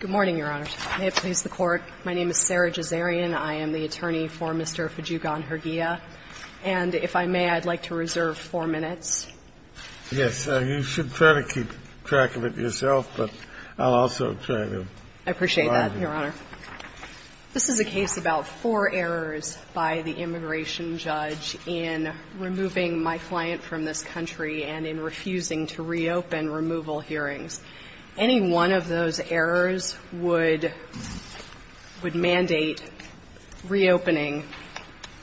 Good morning, Your Honor. May it please the Court, my name is Sarah Gisarian. I am the attorney for Mr. Fadjougan-Herguilla, and if I may, I'd like to reserve four minutes. Yes. You should try to keep track of it yourself, but I'll also try to provide you. I appreciate that, Your Honor. This is a case about four errors by the immigration judge in removing my client from this country and in refusing to reopen removal hearings. Any one of those errors would mandate reopening,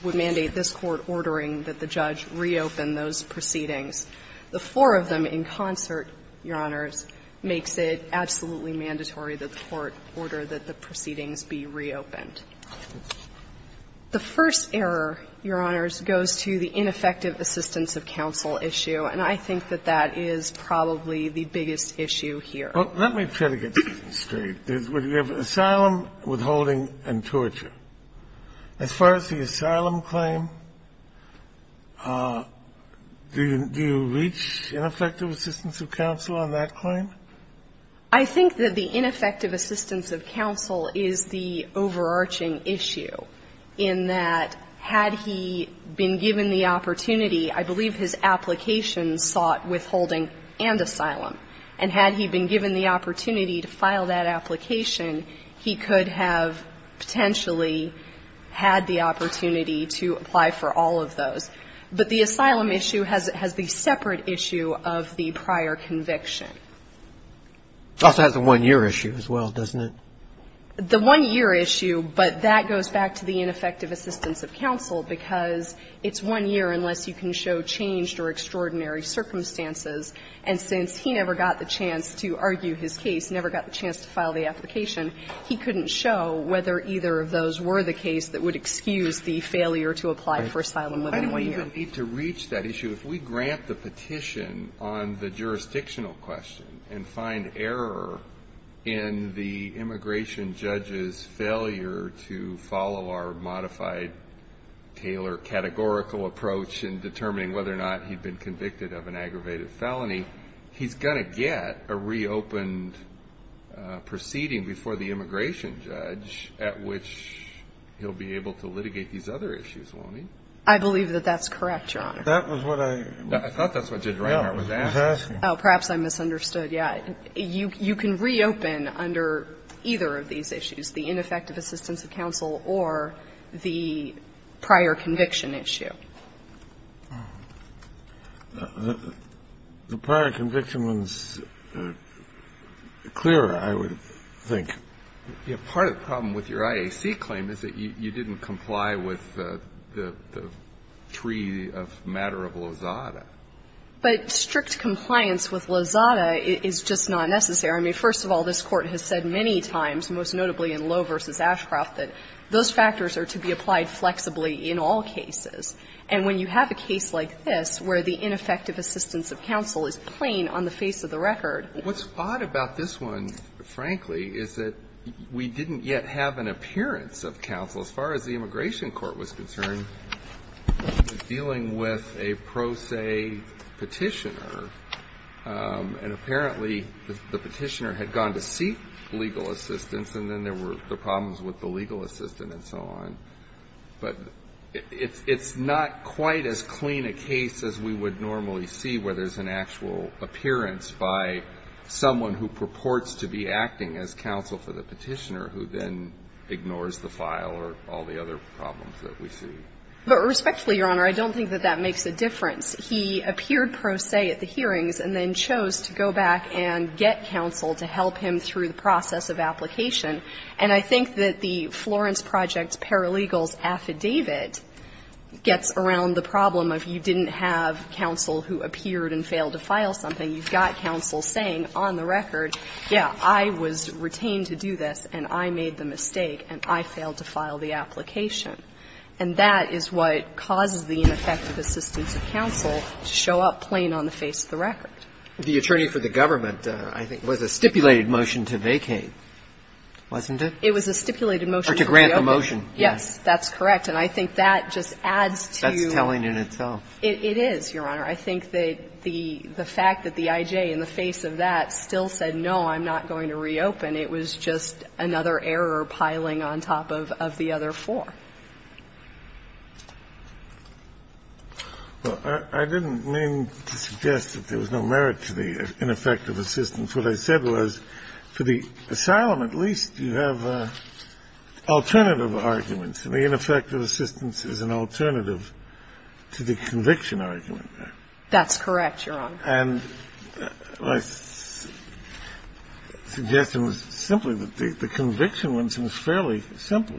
would mandate this Court ordering that the judge reopen those proceedings. The four of them in concert, Your Honors, makes it absolutely mandatory that the Court order that the proceedings be reopened. The first error, Your Honors, goes to the ineffective assistance of counsel issue, and I think that that is probably the biggest issue here. Well, let me try to get this straight. There's asylum, withholding, and torture. As far as the asylum claim, do you reach ineffective assistance of counsel on that claim? I think that the ineffective assistance of counsel is the overarching issue in that had he been given the opportunity, I believe his application sought withholding and asylum, and had he been given the opportunity to file that application, he could have potentially had the opportunity to apply for all of those. But the asylum issue has the separate issue of the prior conviction. It also has the one-year issue as well, doesn't it? The one-year issue, but that goes back to the ineffective assistance of counsel, because it's one year unless you can show changed or extraordinary circumstances. And since he never got the chance to argue his case, never got the chance to file the application, he couldn't show whether either of those were the case that would excuse the failure to apply for asylum within one year. I don't even need to reach that issue. If we grant the petition on the jurisdictional question and find error in the immigration judge's failure to follow our modified Taylor categorical approach in determining whether or not he'd been convicted of an aggravated felony, he's going to get a reopened proceeding before the immigration judge at which he'll be able to litigate these other issues, won't he? I believe that that's correct, Your Honor. That was what I was asking. I thought that's what Judge Reinhart was asking. Oh, perhaps I misunderstood. Yeah. You can reopen under either of these issues, the ineffective assistance of counsel or the prior conviction issue. The prior conviction one's clearer, I would think. Yeah. Part of the problem with your IAC claim is that you didn't comply with the tree of the matter of Lozada. But strict compliance with Lozada is just not necessary. I mean, first of all, this Court has said many times, most notably in Lowe v. Ashcroft, that those factors are to be applied flexibly in all cases. And when you have a case like this where the ineffective assistance of counsel is plain on the face of the record. What's odd about this one, frankly, is that we didn't yet have an appearance of counsel. As far as the immigration court was concerned, dealing with a pro se petitioner and apparently the petitioner had gone to seek legal assistance and then there were the problems with the legal assistant and so on. But it's not quite as clean a case as we would normally see where there's an actual appearance by someone who purports to be acting as counsel for the petitioner who then ignores the file or all the other problems that we see. Respectfully, Your Honor, I don't think that that makes a difference. He appeared pro se at the hearings and then chose to go back and get counsel to help him through the process of application. And I think that the Florence Project Paralegals Affidavit gets around the problem of you didn't have counsel who appeared and failed to file something. You've got counsel saying on the record, yeah, I was retained to do this and I'm not going to reopen. I made the mistake and I failed to file the application. And that is what causes the ineffective assistance of counsel to show up plain on the face of the record. The attorney for the government, I think, was a stipulated motion to vacate, wasn't it? It was a stipulated motion to reopen. Or to grant the motion, yes. Yes, that's correct. And I think that just adds to you. That's telling in itself. It is, Your Honor. I think that the fact that the I.J. in the face of that still said, no, I'm not going to reopen, it was just another error piling on top of the other four. Well, I didn't mean to suggest that there was no merit to the ineffective assistance. What I said was for the asylum, at least, you have alternative arguments. And the ineffective assistance is an alternative to the conviction argument. That's correct, Your Honor. And my suggestion was simply that the conviction one seems fairly simple.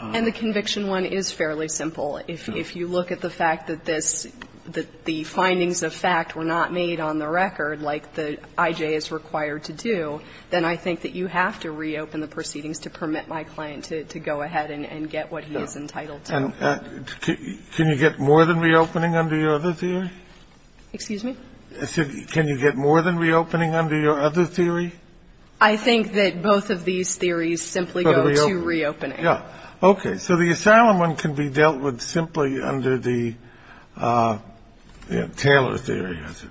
And the conviction one is fairly simple. If you look at the fact that this the findings of fact were not made on the record like the I.J. is required to do, then I think that you have to reopen the proceedings to permit my client to go ahead and get what he is entitled to. Can you get more than reopening under your other theory? Excuse me? I said, can you get more than reopening under your other theory? I think that both of these theories simply go to reopening. Yeah. Okay. So the asylum one can be dealt with simply under the Taylor theory, is it?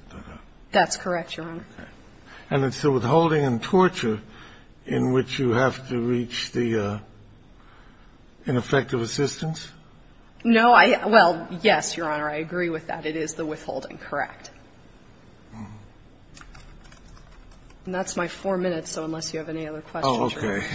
That's correct, Your Honor. And it's the withholding and torture in which you have to reach the ineffective assistance? No. Well, yes, Your Honor, I agree with that. It is the withholding, correct. And that's my four minutes, so unless you have any other questions. Oh, okay.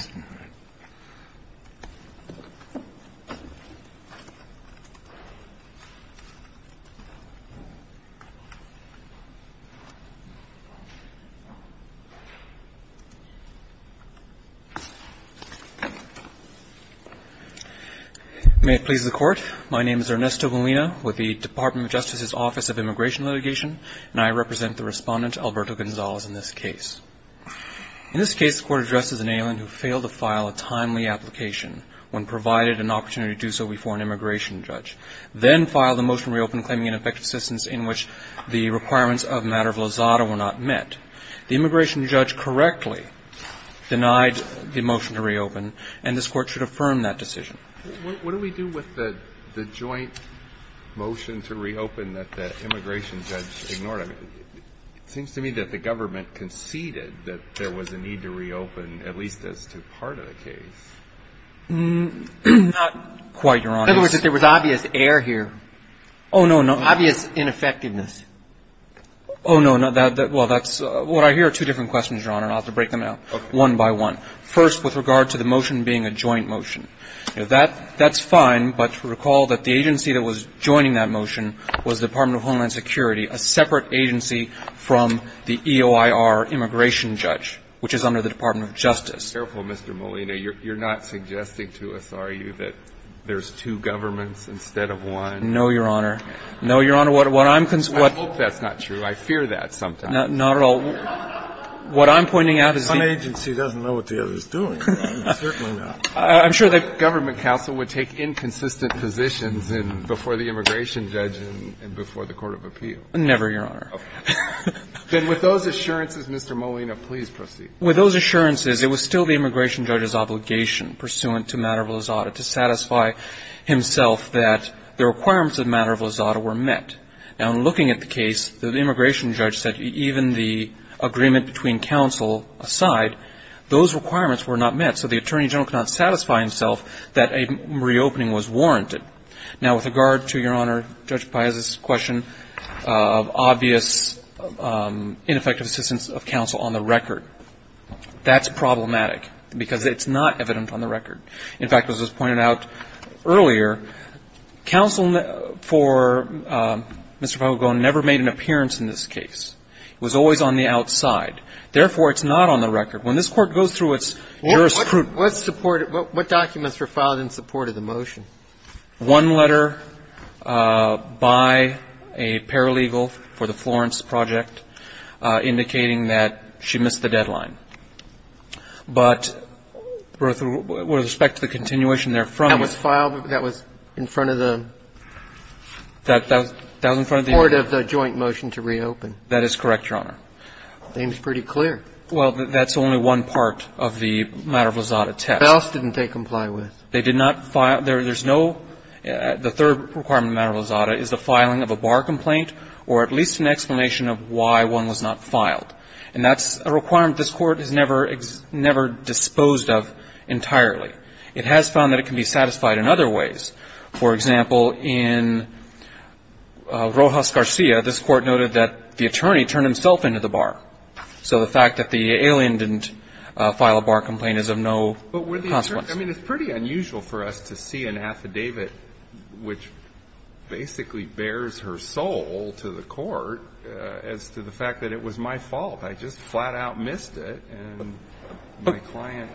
May it please the Court. My name is Ernesto Molina with the Department of Justice's Office of Immigration Litigation, and I represent the Respondent, Alberto Gonzalez, in this case. In this case, the Court addresses an alien who failed to file a timely application when provided an opportunity to do so before an immigration judge, then filed a motion to reopen claiming ineffective assistance in which the requirements of a matter of lozada were not met. The immigration judge correctly denied the motion to reopen, and this Court should affirm that decision. What do we do with the joint motion to reopen that the immigration judge ignored? I mean, it seems to me that the government conceded that there was a need to reopen, at least as to part of the case. Not quite, Your Honor. In other words, that there was obvious error here. Oh, no, no. Obvious ineffectiveness. Oh, no. Well, that's what I hear are two different questions, Your Honor, and I'll have to break them out one by one. First, with regard to the motion being a joint motion. You know, that's fine, but recall that the agency that was joining that motion was the Department of Homeland Security, a separate agency from the EOIR immigration judge, which is under the Department of Justice. Be careful, Mr. Molina. You're not suggesting to us, are you, that there's two governments instead of one? No, Your Honor. No, Your Honor. What I'm concerned about. I hope that's not true. I fear that sometimes. Not at all. What I'm pointing out is the one agency doesn't know what the other is doing. Certainly not. I'm sure that. Government counsel would take inconsistent positions before the immigration judge and before the court of appeal. Never, Your Honor. Okay. Then with those assurances, Mr. Molina, please proceed. With those assurances, it was still the immigration judge's obligation pursuant to matter of lazada to satisfy himself that the requirements of matter of lazada were met. Now, in looking at the case, the immigration judge said even the agreement between counsel aside, those requirements were not met. So the attorney general cannot satisfy himself that a reopening was warranted. Now, with regard to, Your Honor, Judge Paez's question of obvious ineffective assistance of counsel on the record, that's problematic, because it's not evident on the record. In fact, as was pointed out earlier, counsel for Mr. Pagone never made an appearance in this case. It was always on the outside. Therefore, it's not on the record. When this Court goes through its jurisprudence. What's supported? What documents were filed in support of the motion? One letter by a paralegal for the Florence project indicating that she missed the deadline. But with respect to the continuation there from it. That was filed? That was in front of the? That was in front of the? Support of the joint motion to reopen. That is correct, Your Honor. The name is pretty clear. Well, that's only one part of the matter of Lizada test. The house didn't comply with? They did not file. There's no, the third requirement of matter of Lizada is the filing of a bar complaint or at least an explanation of why one was not filed. And that's a requirement this Court has never, never disposed of entirely. It has found that it can be satisfied in other ways. For example, in Rojas Garcia, this Court noted that the attorney turned himself into the bar. So the fact that the alien didn't file a bar complaint is of no consequence. I mean, it's pretty unusual for us to see an affidavit which basically bears her soul to the Court as to the fact that it was my fault. I just flat out missed it, and my client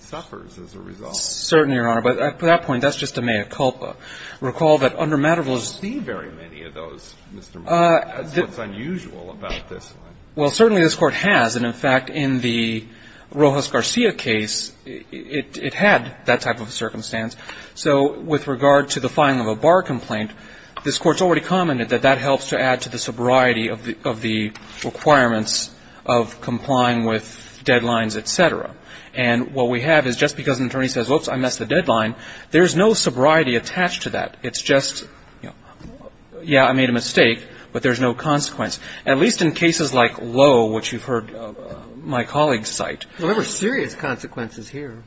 suffers as a result. Certainly, Your Honor. But at that point, that's just a mea culpa. Recall that under matter of Lizada? I don't see very many of those, Mr. Moore. That's what's unusual about this one. Well, certainly this Court has. And in fact, in the Rojas Garcia case, it had that type of circumstance. So with regard to the filing of a bar complaint, this Court's already commented that that helps to add to the sobriety of the requirements of complying with deadlines, et cetera. And what we have is just because an attorney says, whoops, I missed the deadline, there's no sobriety attached to that. It's just, you know, yeah, I made a mistake, but there's no consequence. At least in cases like Lowe, which you've heard my colleagues cite. Well, there were serious consequences here.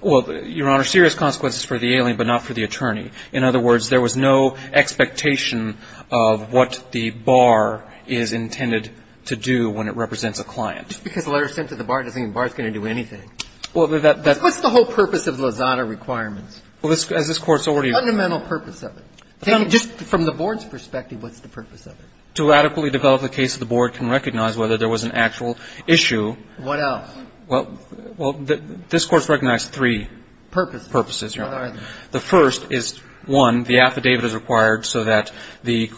Well, Your Honor, serious consequences for the alien, but not for the attorney. In other words, there was no expectation of what the bar is intended to do when it represents a client. Just because the letter is sent to the bar doesn't mean the bar is going to do anything. Well, that's the whole purpose of the Lizada requirements. Well, as this Court's already. Fundamental purpose of it. Just from the Board's perspective, what's the purpose of it? To adequately develop the case that the Board can recognize whether there was an actual issue. What else? Well, this Court's recognized three purposes, Your Honor. What are they? The first is, one, the affidavit is required so that the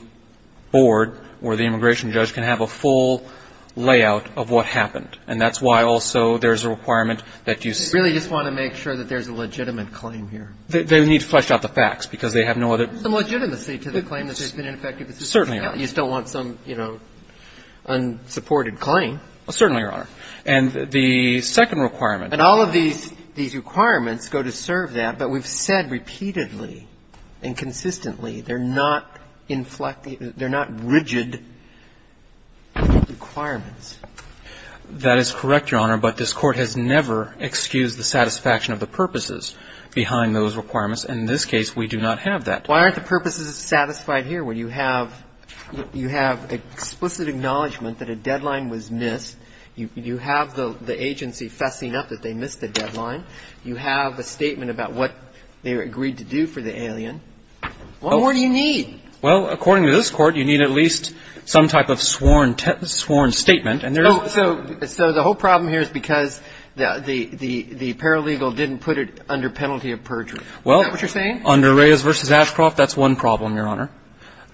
Board or the immigration judge can have a full layout of what happened. And that's why also there's a requirement that you see. I just want to make sure that there's a legitimate claim here. They need to flesh out the facts because they have no other. There's some legitimacy to the claim that they've been ineffective. Certainly, Your Honor. You still want some, you know, unsupported claim. Well, certainly, Your Honor. And the second requirement. And all of these requirements go to serve that, but we've said repeatedly and consistently they're not inflected, they're not rigid requirements. That is correct, Your Honor, but this Court has never excused the satisfaction of the purposes behind those requirements. And in this case, we do not have that. Why aren't the purposes satisfied here where you have explicit acknowledgement that a deadline was missed, you have the agency fessing up that they missed the deadline, you have a statement about what they agreed to do for the alien. What more do you need? Well, according to this Court, you need at least some type of sworn statement So the whole problem here is because the paralegal didn't put it under penalty of perjury. Is that what you're saying? Well, under Reyes v. Ashcroft, that's one problem, Your Honor.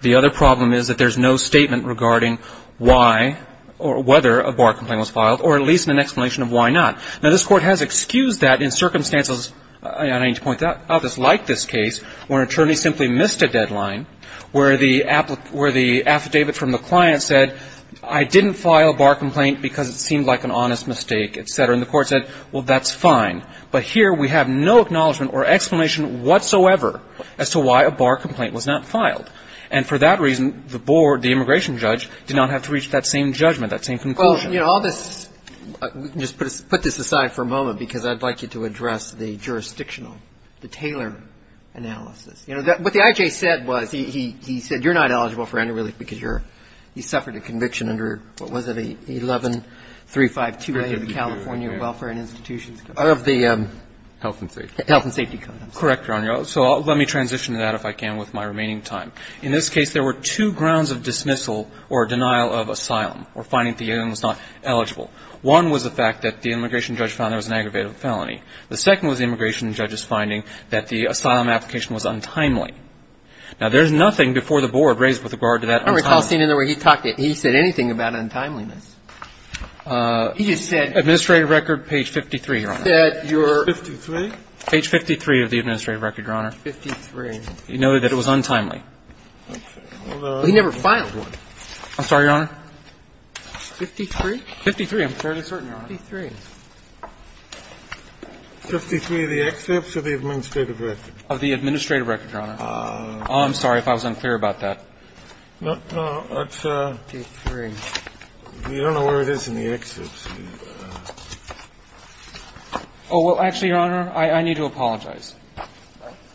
The other problem is that there's no statement regarding why or whether a bar complaint was filed or at least an explanation of why not. Now, this Court has excused that in circumstances, and I need to point that out, just like this case where an attorney simply missed a deadline, where the affidavit from the client said, I didn't file a bar complaint because it seemed like an honest mistake, et cetera. And the Court said, well, that's fine. But here we have no acknowledgement or explanation whatsoever as to why a bar complaint was not filed. And for that reason, the board, the immigration judge, did not have to reach that same judgment, that same conclusion. Well, you know, all this we can just put this aside for a moment because I'd like you to address the jurisdictional, the Taylor analysis. You know, what the I.J. said was, he said you're not eligible for underrelief because you're, you suffered a conviction under, what was it, 11352A of the California Welfare and Institutions Code. Health and safety. Health and safety code. Correct, Your Honor. So let me transition to that, if I can, with my remaining time. In this case, there were two grounds of dismissal or denial of asylum or finding that the inmate was not eligible. One was the fact that the immigration judge found there was an aggravated felony. The second was the immigration judge's finding that the asylum application was untimely. Now, there's nothing before the board raised with regard to that untimely. I don't recall seeing anywhere he talked, he said anything about untimeliness. He just said. Administrative record, page 53, Your Honor. He said you're. 53? Page 53 of the administrative record, Your Honor. 53. You know that it was untimely. Okay. Well, he never filed one. I'm sorry, Your Honor. 53? 53, I'm fairly certain, Your Honor. 53. 53 of the excerpts or the administrative record? Of the administrative record, Your Honor. I'm sorry if I was unclear about that. No, no. It's 53. You don't know where it is in the excerpts. Oh, well, actually, Your Honor, I need to apologize.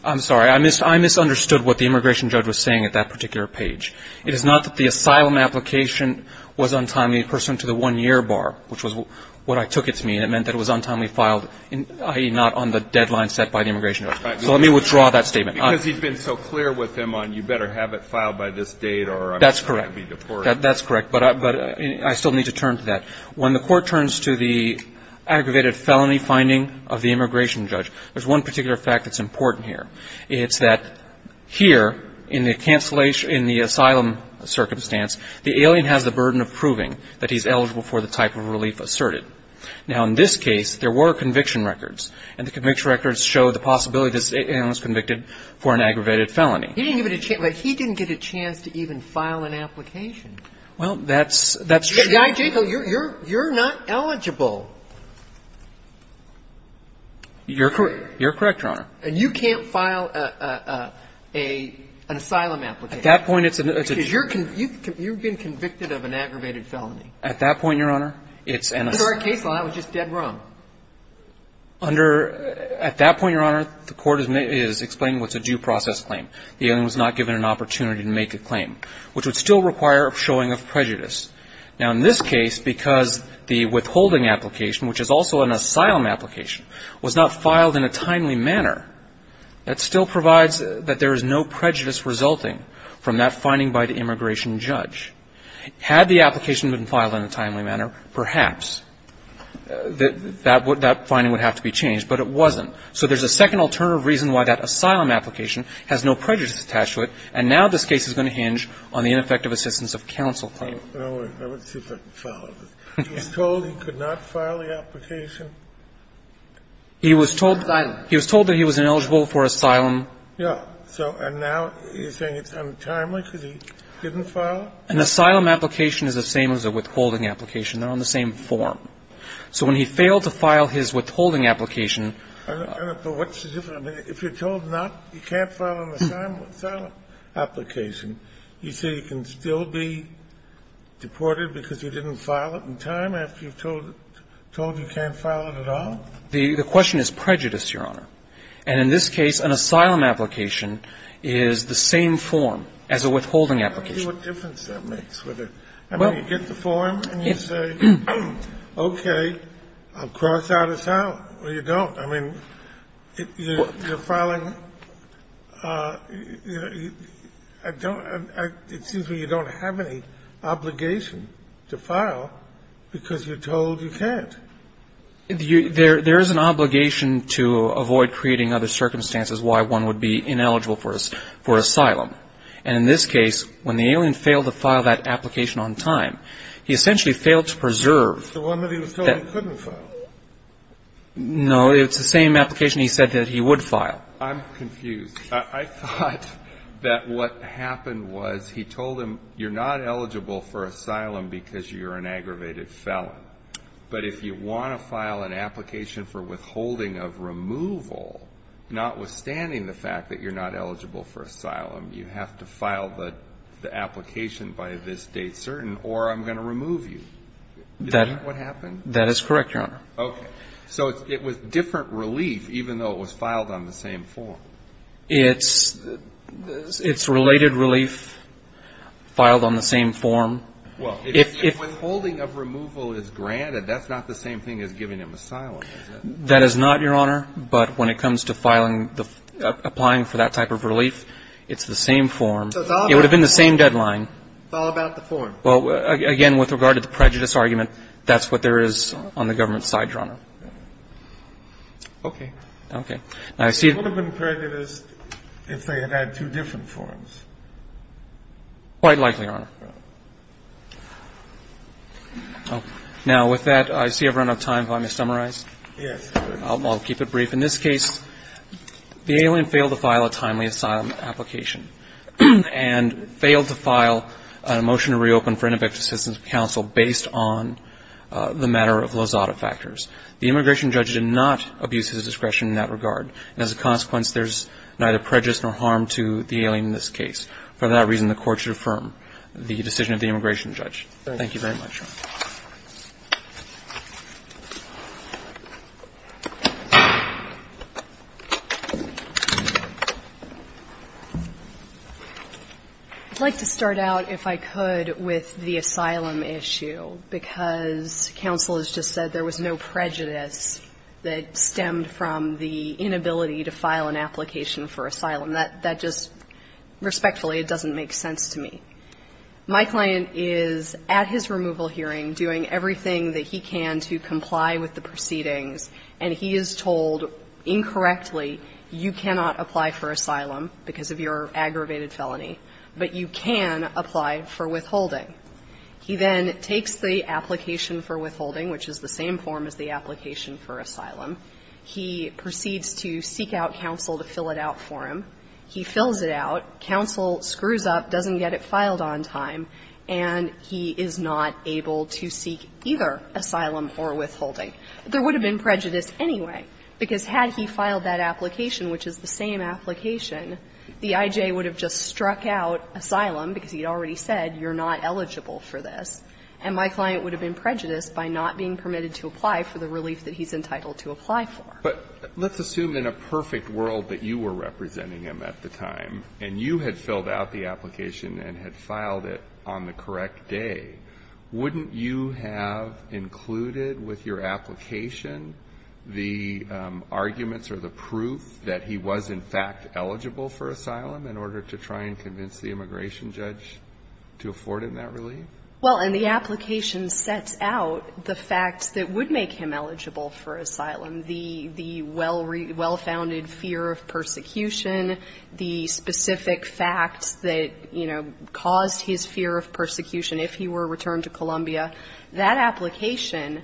I'm sorry. I misunderstood what the immigration judge was saying at that particular page. It is not that the asylum application was untimely pursuant to the one-year bar, which was what I took it to mean. It meant that it was untimely filed, i.e., not on the deadline set by the immigration judge. So let me withdraw that statement. Because he's been so clear with him on you better have it filed by this date or I'm going to be deported. That's correct. That's correct. But I still need to turn to that. When the Court turns to the aggravated felony finding of the immigration judge, there's one particular fact that's important here. It's that here, in the cancellation, in the asylum circumstance, the alien has the type of relief asserted. Now, in this case, there were conviction records. And the conviction records show the possibility this alien was convicted for an aggravated felony. He didn't even get a chance to even file an application. Well, that's true. You're not eligible. You're correct, Your Honor. And you can't file an asylum application. At that point, it's a no. Because you're being convicted of an aggravated felony. At that point, Your Honor, it's an asylum. Because our case line was just dead wrong. Under at that point, Your Honor, the Court is explaining what's a due process claim. The alien was not given an opportunity to make a claim, which would still require a showing of prejudice. Now, in this case, because the withholding application, which is also an asylum application, was not filed in a timely manner, that still provides that there is no prejudice resulting from that finding by the immigration judge. Had the application been filed in a timely manner, perhaps that finding would have to be changed, but it wasn't. So there's a second alternative reason why that asylum application has no prejudice attached to it, and now this case is going to hinge on the ineffective assistance of counsel claim. I would see if I can follow this. He was told he could not file the application? He was told that he was ineligible for asylum. Yeah. So and now you're saying it's untimely because he didn't file? An asylum application is the same as a withholding application. They're on the same form. So when he failed to file his withholding application — I don't know. But what's the difference? I mean, if you're told not, you can't file an asylum application, you say you can still be deported because you didn't file it in time after you're told you can't file it at all? The question is prejudice, Your Honor. And in this case, an asylum application is the same form as a withholding application. I don't see what difference that makes. I mean, you get the form and you say, okay, I'll cross out asylum. Well, you don't. I mean, you're filing — I don't — it seems to me you don't have any obligation to file because you're told you can't. There is an obligation to avoid creating other circumstances why one would be ineligible for asylum. And in this case, when the alien failed to file that application on time, he essentially failed to preserve — So what if he was told he couldn't file? No, it's the same application he said that he would file. I'm confused. I thought that what happened was he told him you're not eligible for asylum because you're an aggravated felon. But if you want to file an application for withholding of removal, notwithstanding the fact that you're not eligible for asylum, you have to file the application by this date certain or I'm going to remove you. Is that what happened? That is correct, Your Honor. Okay. So it was different relief even though it was filed on the same form. It's related relief filed on the same form. Well, if withholding of removal is granted, that's not the same thing as giving him asylum, is it? That is not, Your Honor. But when it comes to filing the — applying for that type of relief, it's the same form. It would have been the same deadline. It's all about the form. Well, again, with regard to the prejudice argument, that's what there is on the government's side, Your Honor. Okay. Okay. It would have been prejudiced if they had had two different forms. Quite likely, Your Honor. Now, with that, I see I've run out of time. If I may summarize. Yes. I'll keep it brief. In this case, the alien failed to file a timely asylum application and failed to file a motion to reopen for ineffective assistance of counsel based on the matter of Lozada factors. The immigration judge did not abuse his discretion in that regard, and as a consequence, there's neither prejudice nor harm to the alien in this case. For that reason, the Court should affirm the decision of the immigration judge. Thank you very much. I'd like to start out, if I could, with the asylum issue, because counsel has just said there was no prejudice that stemmed from the inability to file an application for asylum. That just respectfully doesn't make sense to me. My client is, at his removal hearing, doing everything that he can to comply with the proceedings, and he is told incorrectly, you cannot apply for asylum because of your aggravated felony, but you can apply for withholding. He then takes the application for withholding, which is the same form as the application for asylum. He proceeds to seek out counsel to fill it out for him. He fills it out. Counsel screws up, doesn't get it filed on time, and he is not able to seek either asylum or withholding. There would have been prejudice anyway, because had he filed that application, which is the same application, the I.J. would have just struck out asylum, because he had already said you're not eligible for this, and my client would have been prejudiced by not being permitted to apply for the relief that he's entitled to apply for. But let's assume in a perfect world that you were representing him at the time, and you had filled out the application and had filed it on the correct day, wouldn't you have included with your application the arguments or the proof that he was, in fact, eligible for asylum in order to try and convince the immigration judge to afford him that relief? Well, and the application sets out the facts that would make him eligible for asylum. The well-founded fear of persecution, the specific facts that, you know, caused his fear of persecution if he were returned to Columbia, that application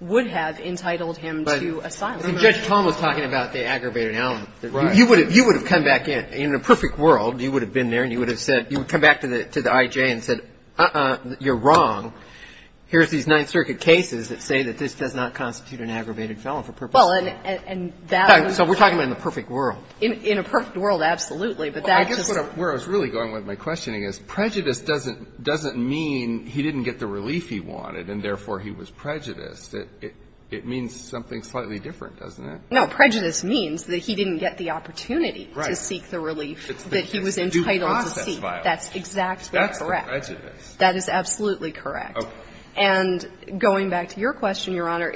would have entitled him to asylum. But Judge Tom was talking about the aggravated element. Right. You would have come back in. In a perfect world, you would have been there and you would have said you would come back to the I.J. and said, uh-uh, you're wrong. Here's these Ninth Circuit cases that say that this does not constitute an aggravated felony for purpose of asylum. So we're talking about in the perfect world. In a perfect world, absolutely. But that's just the case. Well, I guess where I was really going with my questioning is prejudice doesn't mean he didn't get the relief he wanted and, therefore, he was prejudiced. It means something slightly different, doesn't it? No. Prejudice means that he didn't get the opportunity to seek the relief that he was entitled to seek. That's exactly correct. That's the prejudice. That is absolutely correct. Okay. And going back to your question, Your Honor,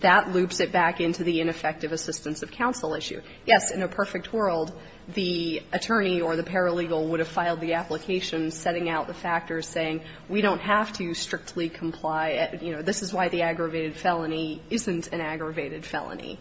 that loops it back into the ineffective assistance of counsel issue. Yes, in a perfect world, the attorney or the paralegal would have filed the application setting out the factors saying we don't have to strictly comply, you know, this is why the aggravated felony isn't an aggravated felony.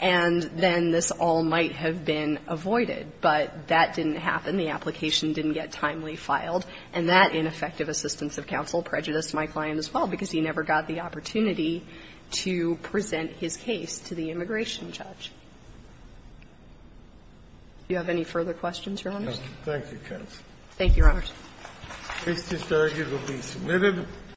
And then this all might have been avoided, but that didn't happen. The application didn't get timely filed. And that ineffective assistance of counsel prejudiced my client as well, because he never got the opportunity to present his case to the immigration judge. Do you have any further questions, Your Honors? Thank you, counsel. Thank you, Your Honors. This discharge will be submitted.